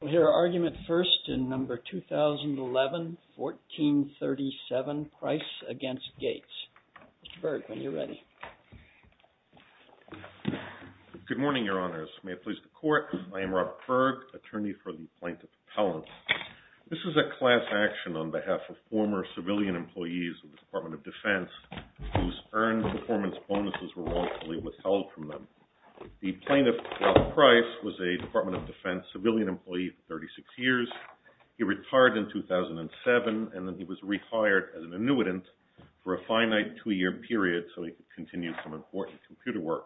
We'll hear argument first in No. 2011-1437, Price v. Gates. Mr. Berg, when you're ready. Good morning, Your Honors. May it please the Court, I am Robert Berg, attorney for the Plaintiff Appellant. This is a class action on behalf of former civilian employees of the Department of Defense whose earned performance bonuses were wrongfully withheld from them. The Plaintiff, Robert Price, was a Department of Defense civilian employee for 36 years. He retired in 2007 and then he was rehired as an annuitant for a finite two-year period so he could continue some important computer work.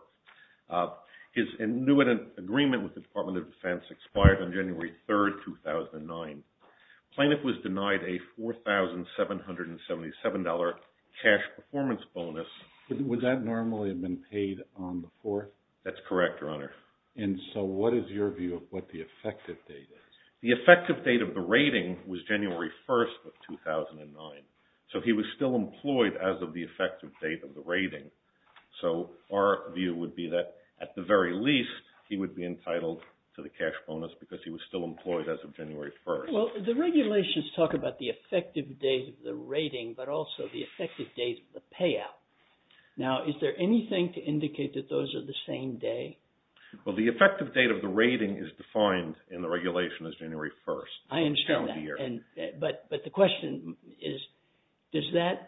His annuitant agreement with the Department of Defense expired on January 3, 2009. The Plaintiff was denied a $4,777 cash performance bonus. Would that normally have been paid on the 4th? That's correct, Your Honor. And so what is your view of what the effective date is? The effective date of the rating was January 1, 2009. So he was still employed as of the effective date of the rating. So our view would be that, at the very least, he would be entitled to the cash bonus because he was still employed as of January 1. Well, the regulations talk about the effective date of the rating but also the effective date of the payout. Now, is there anything to indicate that those are the same day? Well, the effective date of the rating is defined in the regulation as January 1. I understand that. But the question is, is there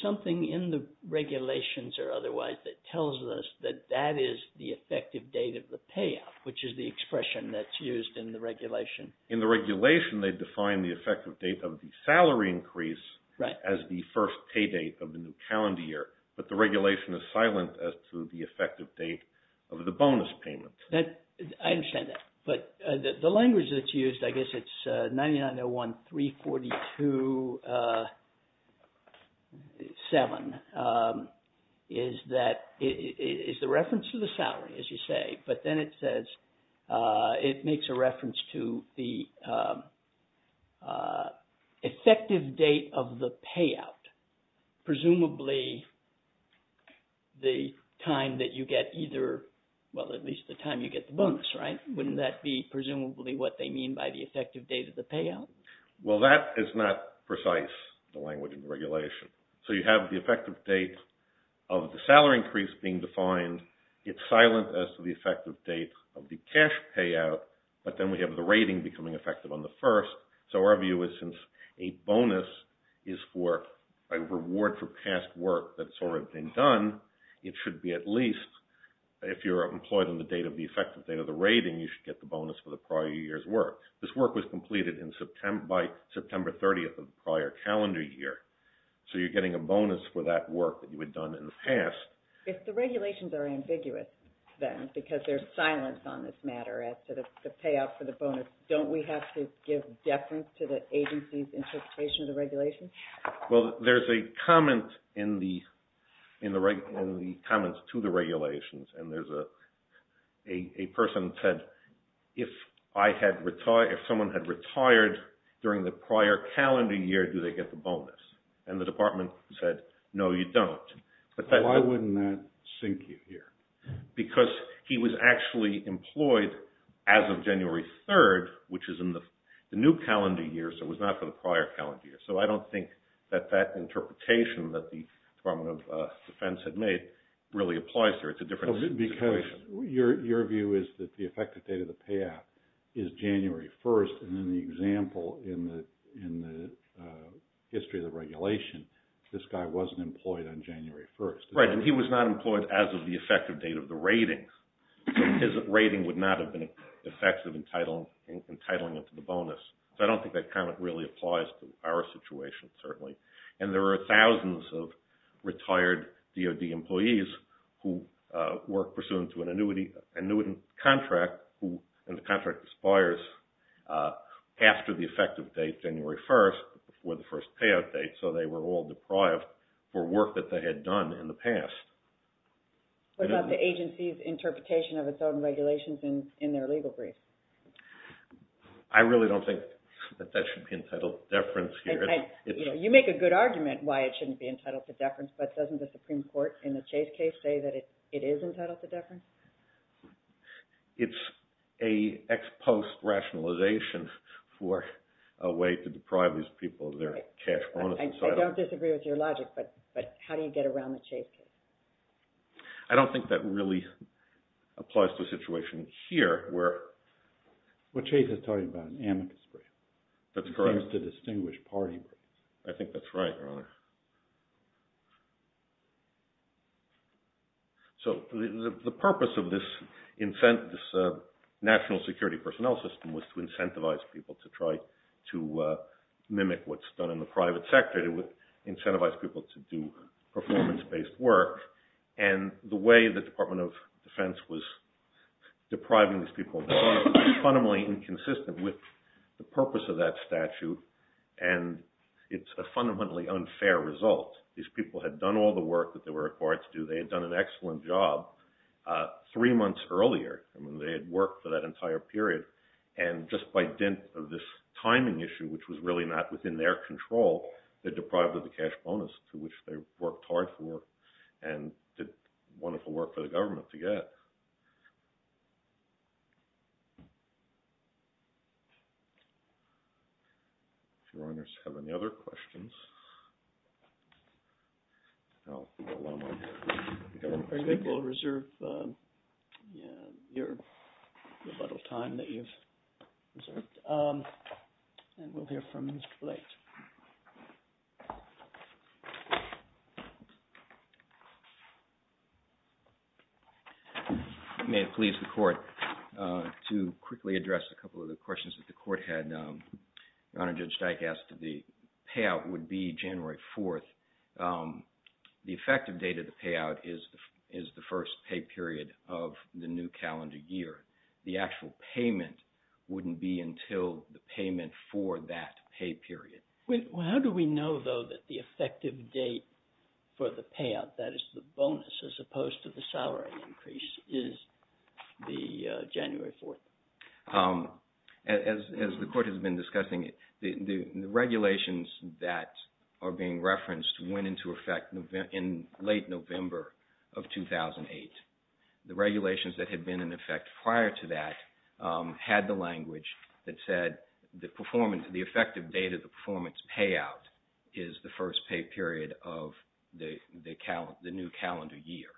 something in the regulations or otherwise that tells us that that is the effective date of the payout, which is the expression that's used in the regulation? In the regulation, they define the effective date of the salary increase as the first pay date of the new calendar year. But the regulation is silent as to the effective date of the bonus payment. I understand that. But the language that's used, I guess it's 9901-342-7, is the reference to the salary, as you say. But then it says it makes a reference to the effective date of the payout, presumably the time that you get either, well, at least the time you get the bonus, right? Wouldn't that be presumably what they mean by the effective date of the payout? Well, that is not precise, the language in the regulation. So you have the effective date of the salary increase being defined. It's silent as to the effective date of the cash payout. But then we have the rating becoming effective on the first. So our view is since a bonus is a reward for past work that's already been done, it should be at least, if you're employed on the effective date of the rating, you should get the bonus for the prior year's work. This work was completed by September 30th of the prior calendar year. So you're getting a bonus for that work that you had done in the past. If the regulations are ambiguous, then, because there's silence on this matter as to the payout for the bonus, don't we have to give deference to the agency's interpretation of the regulations? Well, there's a comment in the comments to the regulations, and there's a person who said, if someone had retired during the prior calendar year, do they get the bonus? And the department said, no, you don't. Why wouldn't that sink you here? Because he was actually employed as of January 3rd, which is in the new calendar year, so it was not for the prior calendar year. So I don't think that that interpretation that the Department of Defense had made really applies there. It's a different situation. Because your view is that the effective date of the payout is January 1st, and then the example in the history of the regulation, this guy wasn't employed on January 1st. Right, and he was not employed as of the effective date of the ratings. So his rating would not have been effective in titling it to the bonus. So I don't think that comment really applies to our situation, certainly. And there are thousands of retired DOD employees who work pursuant to an annuity contract, and the contract expires after the effective date, January 1st, or before the first payout date. So they were all deprived for work that they had done in the past. What about the agency's interpretation of its own regulations in their legal brief? I really don't think that that should be entitled to deference here. You make a good argument why it shouldn't be entitled to deference, but doesn't the Supreme Court in the Chase case say that it is entitled to deference? It's an ex-post rationalization for a way to deprive these people of their cash bonus. I don't disagree with your logic, but how do you get around the Chase case? I don't think that really applies to the situation here. Well, Chase is talking about an amicus brief. That's correct. It seems to distinguish party briefs. I think that's right, Your Honor. So the purpose of this national security personnel system was to incentivize people to try to mimic what's done in the private sector. It would incentivize people to do performance-based work, and the way the Department of Defense was depriving these people of their bonus was fundamentally inconsistent with the purpose of that statute, and it's a fundamentally unfair result. These people had done all the work that they were required to do. They had done an excellent job three months earlier. I mean, they had worked for that entire period, and just by dint of this timing issue, which was really not within their control, they're deprived of the cash bonus, which they worked hard for and did wonderful work for the government to get. If Your Honors have any other questions, I'll go one more. Very good. We'll reserve the amount of time that you've reserved, and we'll hear from Mr. Blake. May it please the Court. To quickly address a couple of the questions that the Court had, Your Honor, Judge Steik asked if the payout would be January 4th. The effective date of the payout is the first pay period of the new calendar year. The actual payment wouldn't be until the payment for that pay period. How do we know, though, that the effective date for the payout, that is the bonus as opposed to the salary increase, is the January 4th? As the Court has been discussing, the regulations that are being referenced went into effect in late November of 2008. The regulations that had been in effect prior to that had the language that said the effective date of the performance payout is the first pay period of the new calendar year.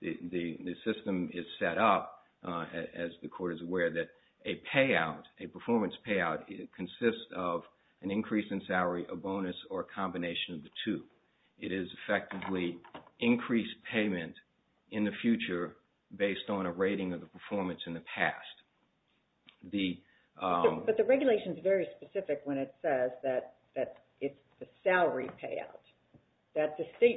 The system is set up, as the Court is aware, that a performance payout consists of an increase in salary, a bonus, or a combination of the two. It is effectively increased payment in the future based on a rating of the performance in the past. But the regulation is very specific when it says that it's the salary payout.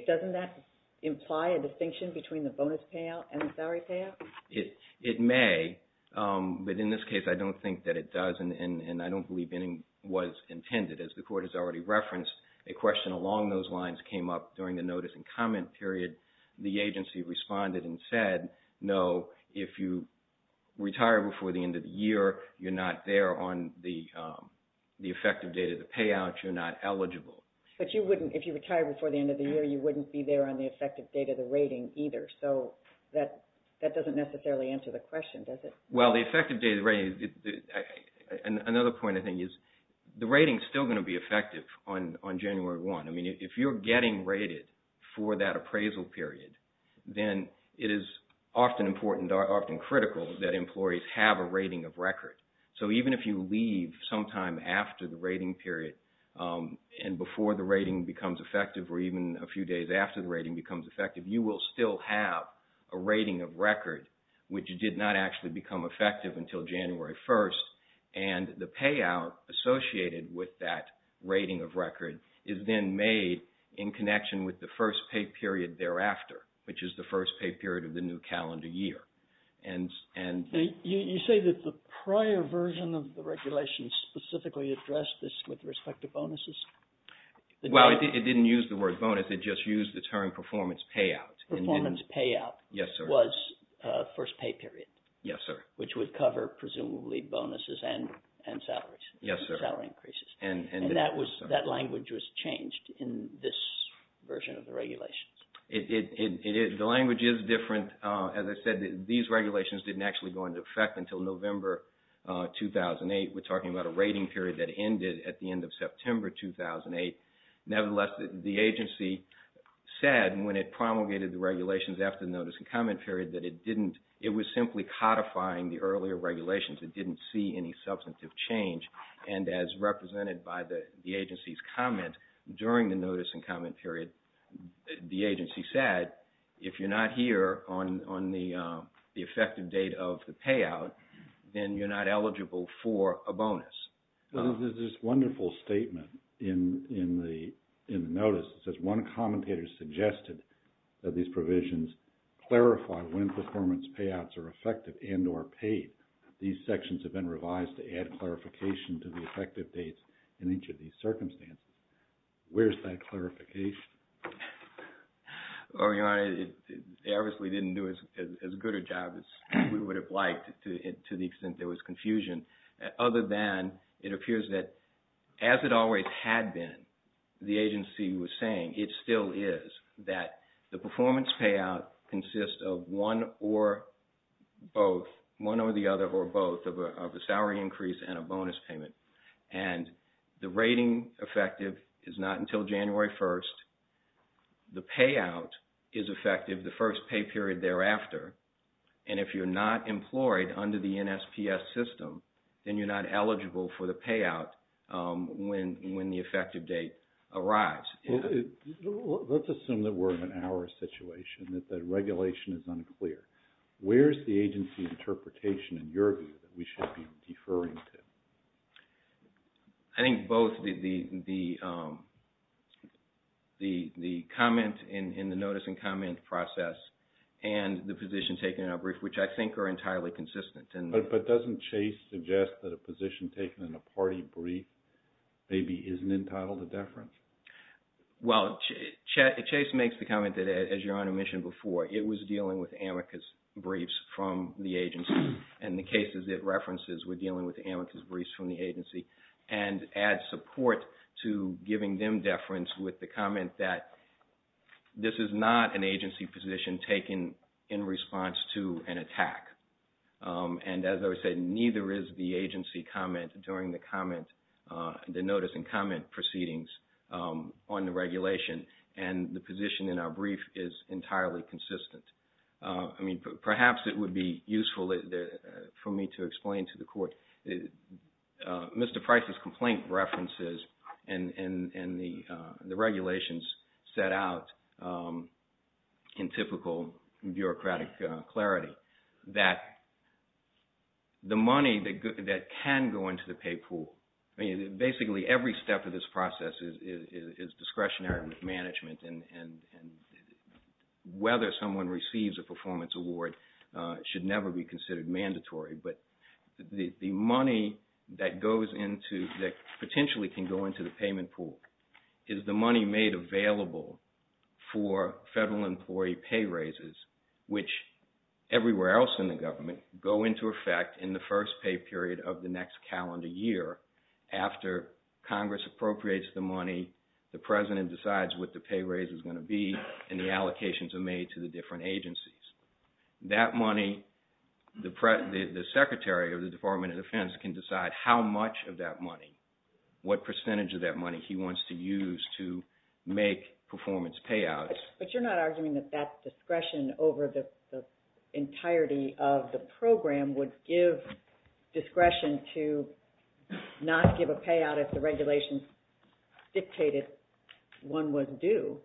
Doesn't that imply a distinction between the bonus payout and the salary payout? It may, but in this case I don't think that it does and I don't believe any was intended. As the Court has already referenced, a question along those lines came up during the notice and comment period. The agency responded and said, no, if you retire before the end of the year, you're not there on the effective date of the payout, you're not eligible. But if you retire before the end of the year, you wouldn't be there on the effective date of the rating either. So that doesn't necessarily answer the question, does it? Well, the effective date of the rating, another point I think is, the rating is still going to be effective on January 1. I mean, if you're getting rated for that appraisal period, then it is often important or often critical that employees have a rating of record. So even if you leave sometime after the rating period and before the rating becomes effective or even a few days after the rating becomes effective, you will still have a rating of record, which did not actually become effective until January 1. And the payout associated with that rating of record is then made in connection with the first pay period thereafter, which is the first pay period of the new calendar year. You say that the prior version of the regulation specifically addressed this with respect to bonuses? Well, it didn't use the word bonus, it just used the term performance payout. Performance payout was first pay period. Yes, sir. Which would cover presumably bonuses and salaries. Yes, sir. Salary increases. And that language was changed in this version of the regulations. The language is different. As I said, these regulations didn't actually go into effect until November 2008. We're talking about a rating period that ended at the end of September 2008. Nevertheless, the agency said when it promulgated the regulations after the notice and comment period that it didn't. It was simply codifying the earlier regulations. It didn't see any substantive change. And as represented by the agency's comment during the notice and comment period, the agency said if you're not here on the effective date of the payout, then you're not eligible for a bonus. There's this wonderful statement in the notice. It says one commentator suggested that these provisions clarify when performance payouts are effective and or paid. These sections have been revised to add clarification to the effective dates in each of these circumstances. Where's that clarification? Well, Your Honor, they obviously didn't do as good a job as we would have liked to the extent there was confusion. Other than it appears that as it always had been, the agency was saying it still is, that the performance payout consists of one or both, one or the other or both, of a salary increase and a bonus payment. And the rating effective is not until January 1st. The payout is effective the first pay period thereafter. And if you're not employed under the NSPS system, then you're not eligible for the payout when the effective date arrives. Let's assume that we're in our situation, that the regulation is unclear. Where's the agency's interpretation in your view that we should be deferring to? I think both the comment in the notice and comment process and the position taken in our brief, which I think are entirely consistent. But doesn't Chase suggest that a position taken in a party brief maybe isn't entitled to deference? Well, Chase makes the comment that, as Your Honor mentioned before, it was dealing with amicus briefs from the agency. And the cases it references were dealing with amicus briefs from the agency. And adds support to giving them deference with the comment that this is not an agency position taken in response to an attack. And as I was saying, neither is the agency comment during the notice and comment proceedings on the regulation. And the position in our brief is entirely consistent. I mean, perhaps it would be useful for me to explain to the Court. Mr. Price's complaint references and the regulations set out in typical bureaucratic clarity that the money that can go into the pay pool, I mean, basically every step of this process is discretionary management. And whether someone receives a performance award should never be considered mandatory. But the money that potentially can go into the payment pool is the money made available for federal employee pay raises, which everywhere else in the government go into effect in the first pay period of the next calendar year. After Congress appropriates the money, the President decides what the pay raise is going to be and the allocations are made to the different agencies. That money, the Secretary of the Department of Defense can decide how much of that money, what percentage of that money he wants to use to make performance payouts. But you're not arguing that that discretion over the entirety of the program would give discretion to not give a payout if the regulations dictated one was due.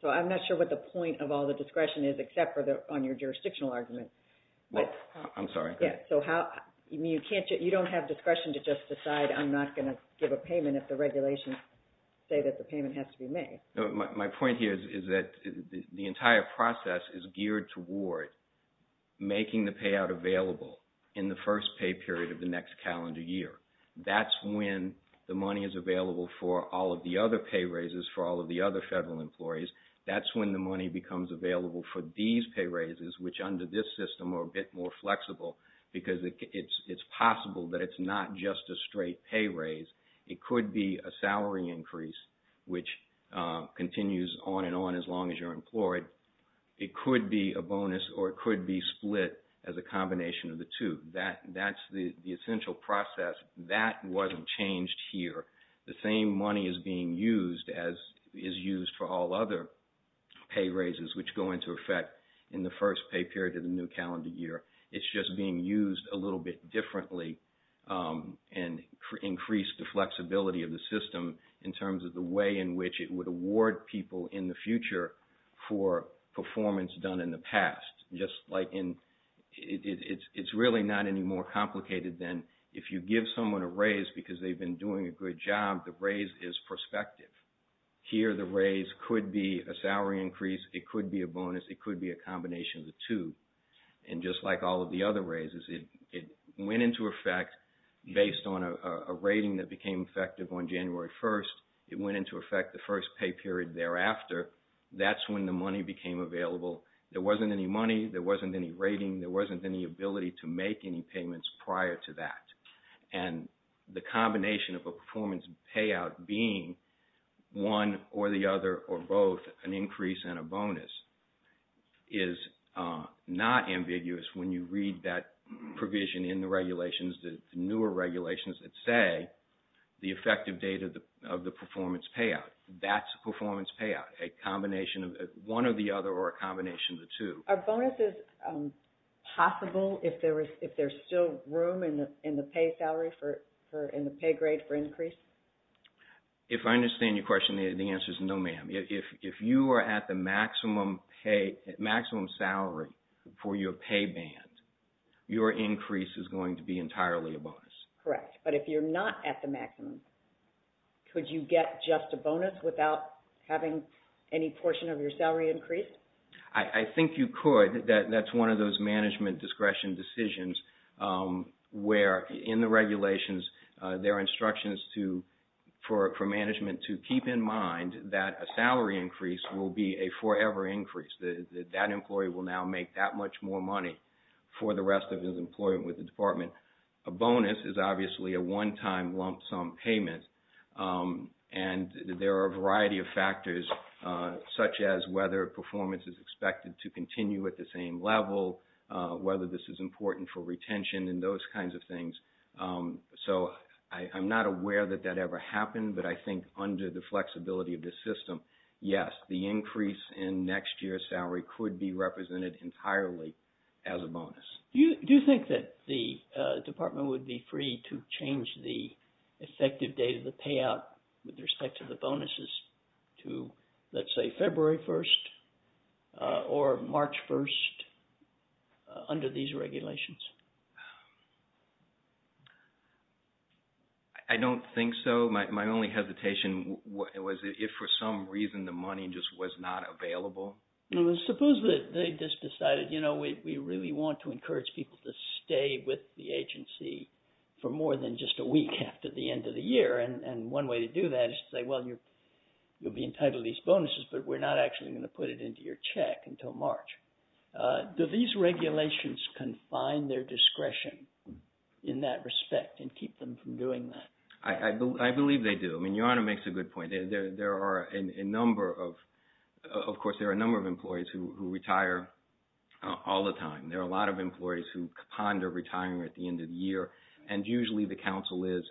So I'm not sure what the point of all the discretion is except on your jurisdictional argument. I'm sorry. So you don't have discretion to just decide I'm not going to give a payment if the regulations say that the payment has to be made. My point here is that the entire process is geared toward making the payout available in the first pay period of the next calendar year. That's when the money is available for all of the other pay raises for all of the other federal employees. That's when the money becomes available for these pay raises, which under this system are a bit more flexible, because it's possible that it's not just a straight pay raise. It could be a salary increase, which continues on and on as long as you're employed. It could be a bonus or it could be split as a combination of the two. That's the essential process. That wasn't changed here. The same money is being used as is used for all other pay raises, which go into effect in the first pay period of the new calendar year. It's just being used a little bit differently and increased the flexibility of the system in terms of the way in which it would award people in the future for performance done in the past. It's really not any more complicated than if you give someone a raise because they've been doing a good job, the raise is prospective. Here the raise could be a salary increase. It could be a bonus. It could be a combination of the two. And just like all of the other raises, it went into effect based on a rating that became effective on January 1st. It went into effect the first pay period thereafter. That's when the money became available. There wasn't any money. There wasn't any rating. There wasn't any ability to make any payments prior to that. And the combination of a performance payout being one or the other or both, an increase and a bonus, is not ambiguous when you read that provision in the regulations, the newer regulations that say the effective date of the performance payout. That's a performance payout, a combination of one or the other or a combination of the two. Are bonuses possible if there's still room in the pay grade for increase? If I understand your question, the answer is no, ma'am. If you are at the maximum salary for your pay band, your increase is going to be entirely a bonus. Correct. But if you're not at the maximum, could you get just a bonus without having any portion of your salary increased? I think you could. That's one of those management discretion decisions where in the regulations, there are instructions for management to keep in mind that a salary increase will be a forever increase. That employee will now make that much more money for the rest of his employment with the department. A bonus is obviously a one-time lump sum payment. And there are a variety of factors such as whether performance is expected to continue at the same level, whether this is important for retention and those kinds of things. So I'm not aware that that ever happened, but I think under the flexibility of this system, yes, the increase in next year's salary could be represented entirely as a bonus. Do you think that the department would be free to change the effective date of the payout with respect to the bonuses to, let's say, February 1st or March 1st under these regulations? I don't think so. My only hesitation was if for some reason the money just was not available. Suppose that they just decided, you know, we really want to encourage people to stay with the agency for more than just a week after the end of the year. And one way to do that is to say, well, you'll be entitled to these bonuses, but we're not actually going to put it into your check until March. Do these regulations confine their discretion in that respect and keep them from doing that? I believe they do. I mean, Your Honor makes a good point. There are a number of, of course, there are a number of employees who retire all the time. There are a lot of employees who ponder retiring at the end of the year, and usually the counsel is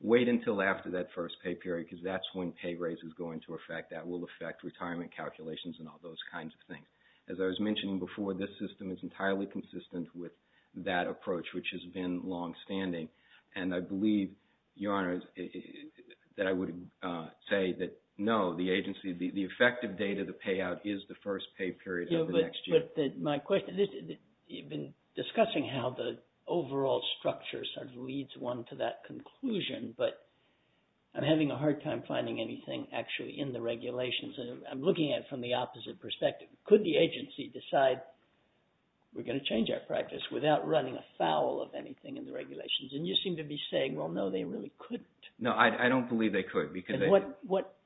wait until after that first pay period because that's when pay raises go into effect. That will affect retirement calculations and all those kinds of things. As I was mentioning before, this system is entirely consistent with that approach, which has been longstanding. And I believe, Your Honor, that I would say that, no, the agency, the effective date of the payout is the first pay period of the next year. But my question, you've been discussing how the overall structure sort of leads one to that conclusion, but I'm having a hard time finding anything actually in the regulations. I'm looking at it from the opposite perspective. Could the agency decide we're going to change our practice without running afoul of anything in the regulations? And you seem to be saying, well, no, they really couldn't. No, I don't believe they could. What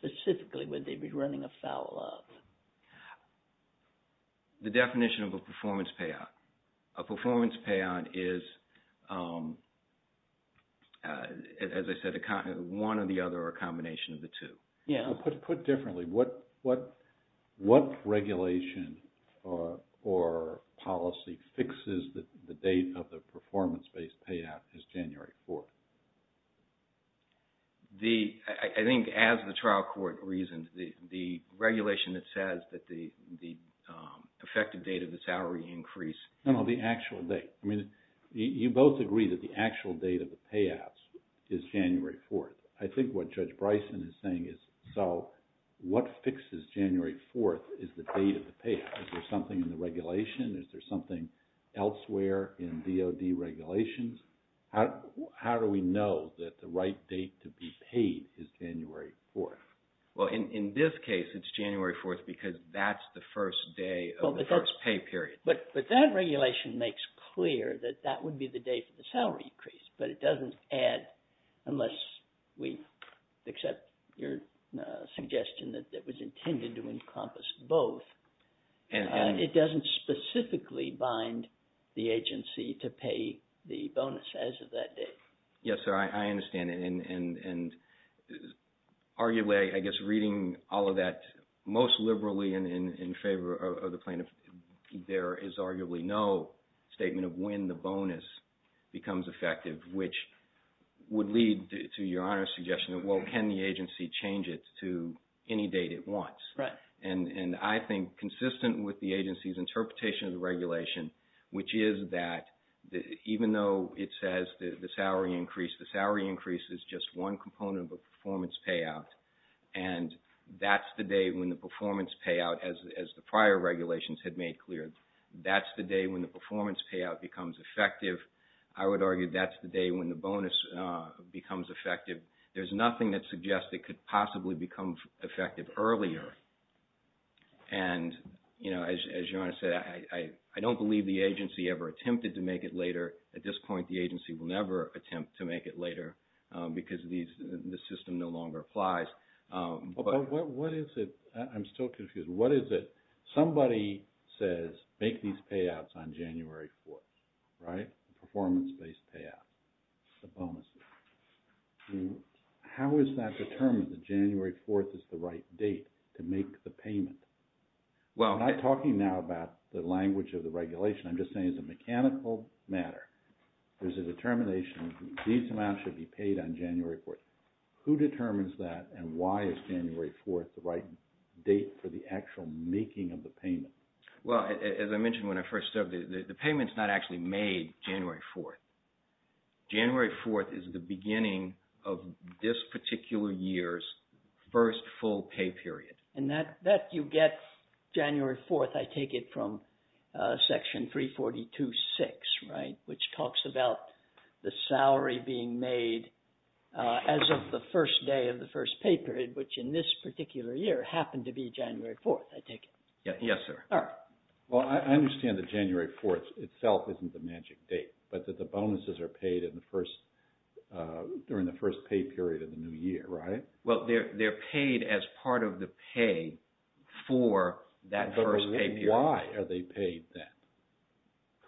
specifically would they be running afoul of? The definition of a performance payout. A performance payout is, as I said, one or the other or a combination of the two. Put differently, what regulation or policy fixes the date of the performance-based payout as January 4th? I think as the trial court reasoned, the regulation that says that the effective date of the salary increase. No, no, the actual date. I mean, you both agree that the actual date of the payouts is January 4th. I think what Judge Bryson is saying is, so what fixes January 4th as the date of the payout? Is there something in the regulation? Is there something elsewhere in DOD regulations? How do we know that the right date to be paid is January 4th? Well, in this case, it's January 4th because that's the first day of the first pay period. But that regulation makes clear that that would be the day for the salary increase. But it doesn't add unless we accept your suggestion that it was intended to encompass both. It doesn't specifically bind the agency to pay the bonus as of that date. Yes, sir, I understand. And arguably, I guess reading all of that most liberally in favor of the plaintiff, there is arguably no statement of when the bonus becomes effective, which would lead to your honest suggestion of, well, can the agency change it to any date it wants? Right. And I think consistent with the agency's interpretation of the regulation, which is that even though it says the salary increase, the salary increase is just one component of a performance payout, and that's the day when the performance payout, as the prior regulations had made clear, that's the day when the performance payout becomes effective. I would argue that's the day when the bonus becomes effective. There's nothing that suggests it could possibly become effective earlier. And, you know, as Joanna said, I don't believe the agency ever attempted to make it later. At this point, the agency will never attempt to make it later because the system no longer applies. But what is it? I'm still confused. What is it? Somebody says make these payouts on January 4th, right, performance-based payout, the bonuses. How is that determined that January 4th is the right date to make the payment? Well, I'm not talking now about the language of the regulation. I'm just saying as a mechanical matter, there's a determination these amounts should be paid on January 4th. Who determines that and why is January 4th the right date for the actual making of the payment? Well, as I mentioned when I first started, the payment's not actually made January 4th. January 4th is the beginning of this particular year's first full pay period. And that you get January 4th, I take it, from Section 342.6, right, which talks about the salary being made as of the first day of the first pay period, which in this particular year happened to be January 4th, I take it. Yes, sir. All right. Well, I understand that January 4th itself isn't the magic date, but that the bonuses are paid during the first pay period of the new year, right? Well, they're paid as part of the pay for that first pay period. But why are they paid then?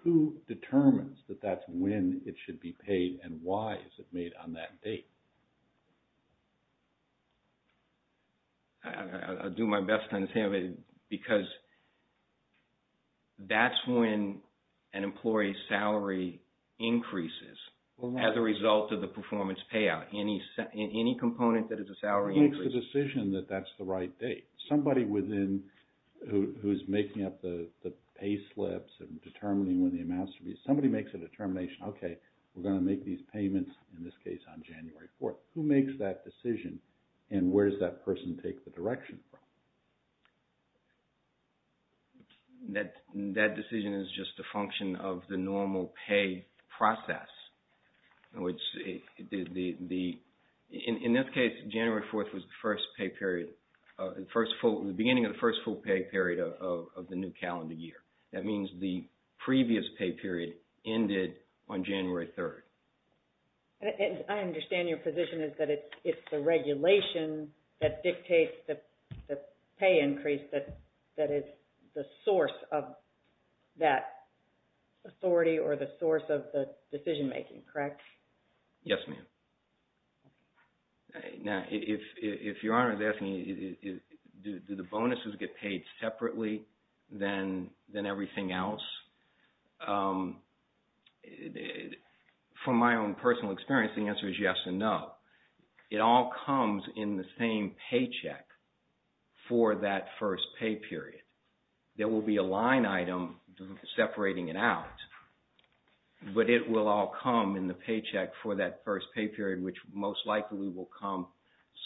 Who determines that that's when it should be paid and why is it made on that date? I'll do my best to understand because that's when an employee's salary increases as a result of the performance payout. Any component that is a salary increase. Who makes the decision that that's the right date? Somebody within who's making up the pay slips and determining when the amounts should be. Somebody makes a determination, okay, we're going to make these payments, in this case, on January 4th. Who makes that decision and where does that person take the direction from? That decision is just a function of the normal pay process. In this case, January 4th was the beginning of the first full pay period of the new calendar year. That means the previous pay period ended on January 3rd. I understand your position is that it's the regulation that dictates the pay increase that is the source of that authority or the source of the decision making, correct? Yes, ma'am. Now, if Your Honor is asking, do the bonuses get paid separately than everything else? From my own personal experience, the answer is yes and no. It all comes in the same paycheck for that first pay period. There will be a line item separating it out, but it will all come in the paycheck for that first pay period which most likely will come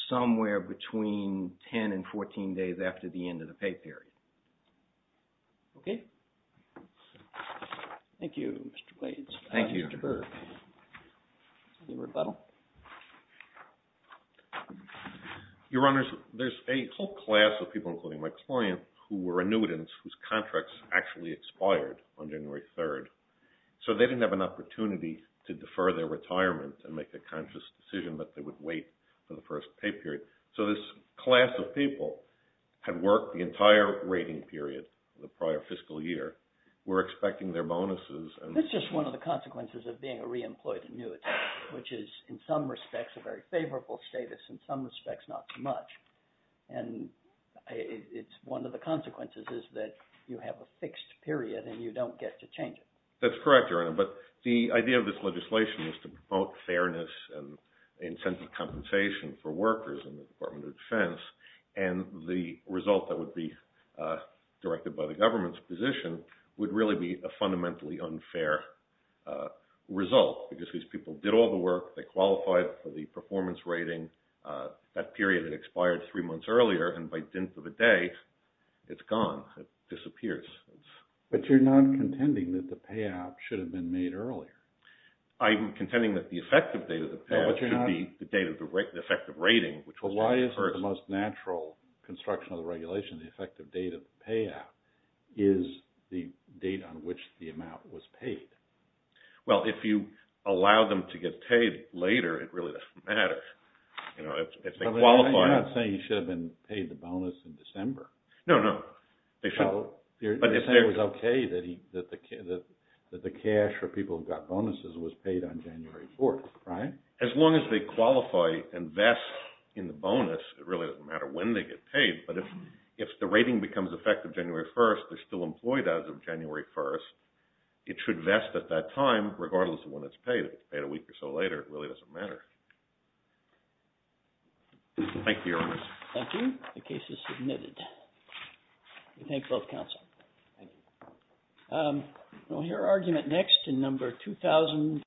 somewhere between 10 and 14 days after the end of the pay period. Okay. Thank you, Mr. Blades. Thank you. Any rebuttal? Your Honors, there's a whole class of people, including my client, who were annuitants whose contracts actually expired on January 3rd. So they didn't have an opportunity to defer their retirement and make a conscious decision, but they would wait for the first pay period. So this class of people had worked the entire rating period the prior fiscal year, were expecting their bonuses. That's just one of the consequences of being a reemployed annuitant, which is in some respects a very favorable status, in some respects not so much. And it's one of the consequences is that you have a fixed period and you don't get to change it. That's correct, Your Honor, but the idea of this legislation is to promote fairness and incentive compensation for workers in the Department of Defense. And the result that would be directed by the government's position would really be a fundamentally unfair result because these people did all the work. They qualified for the performance rating. That period had expired three months earlier, and by dint of a day, it's gone. It disappears. But you're not contending that the payout should have been made earlier. I'm contending that the effective date of the payout should be the date of the effective rating, which was January 1st. But why isn't the most natural construction of the regulation, the effective date of the payout, is the date on which the amount was paid? Well, if you allow them to get paid later, it really doesn't matter. You know, if they qualify. But you're not saying he should have been paid the bonus in December. No, no. So you're saying it was okay that the cash for people who got bonuses was paid on January 4th, right? As long as they qualify and vest in the bonus, it really doesn't matter when they get paid. But if the rating becomes effective January 1st, they're still employed as of January 1st. It should vest at that time, regardless of when it's paid. If it's paid a week or so later, it really doesn't matter. Thank you, Your Honor. Thank you. The case is submitted. We thank both counsel. Thank you. We'll hear argument next in number 2,000.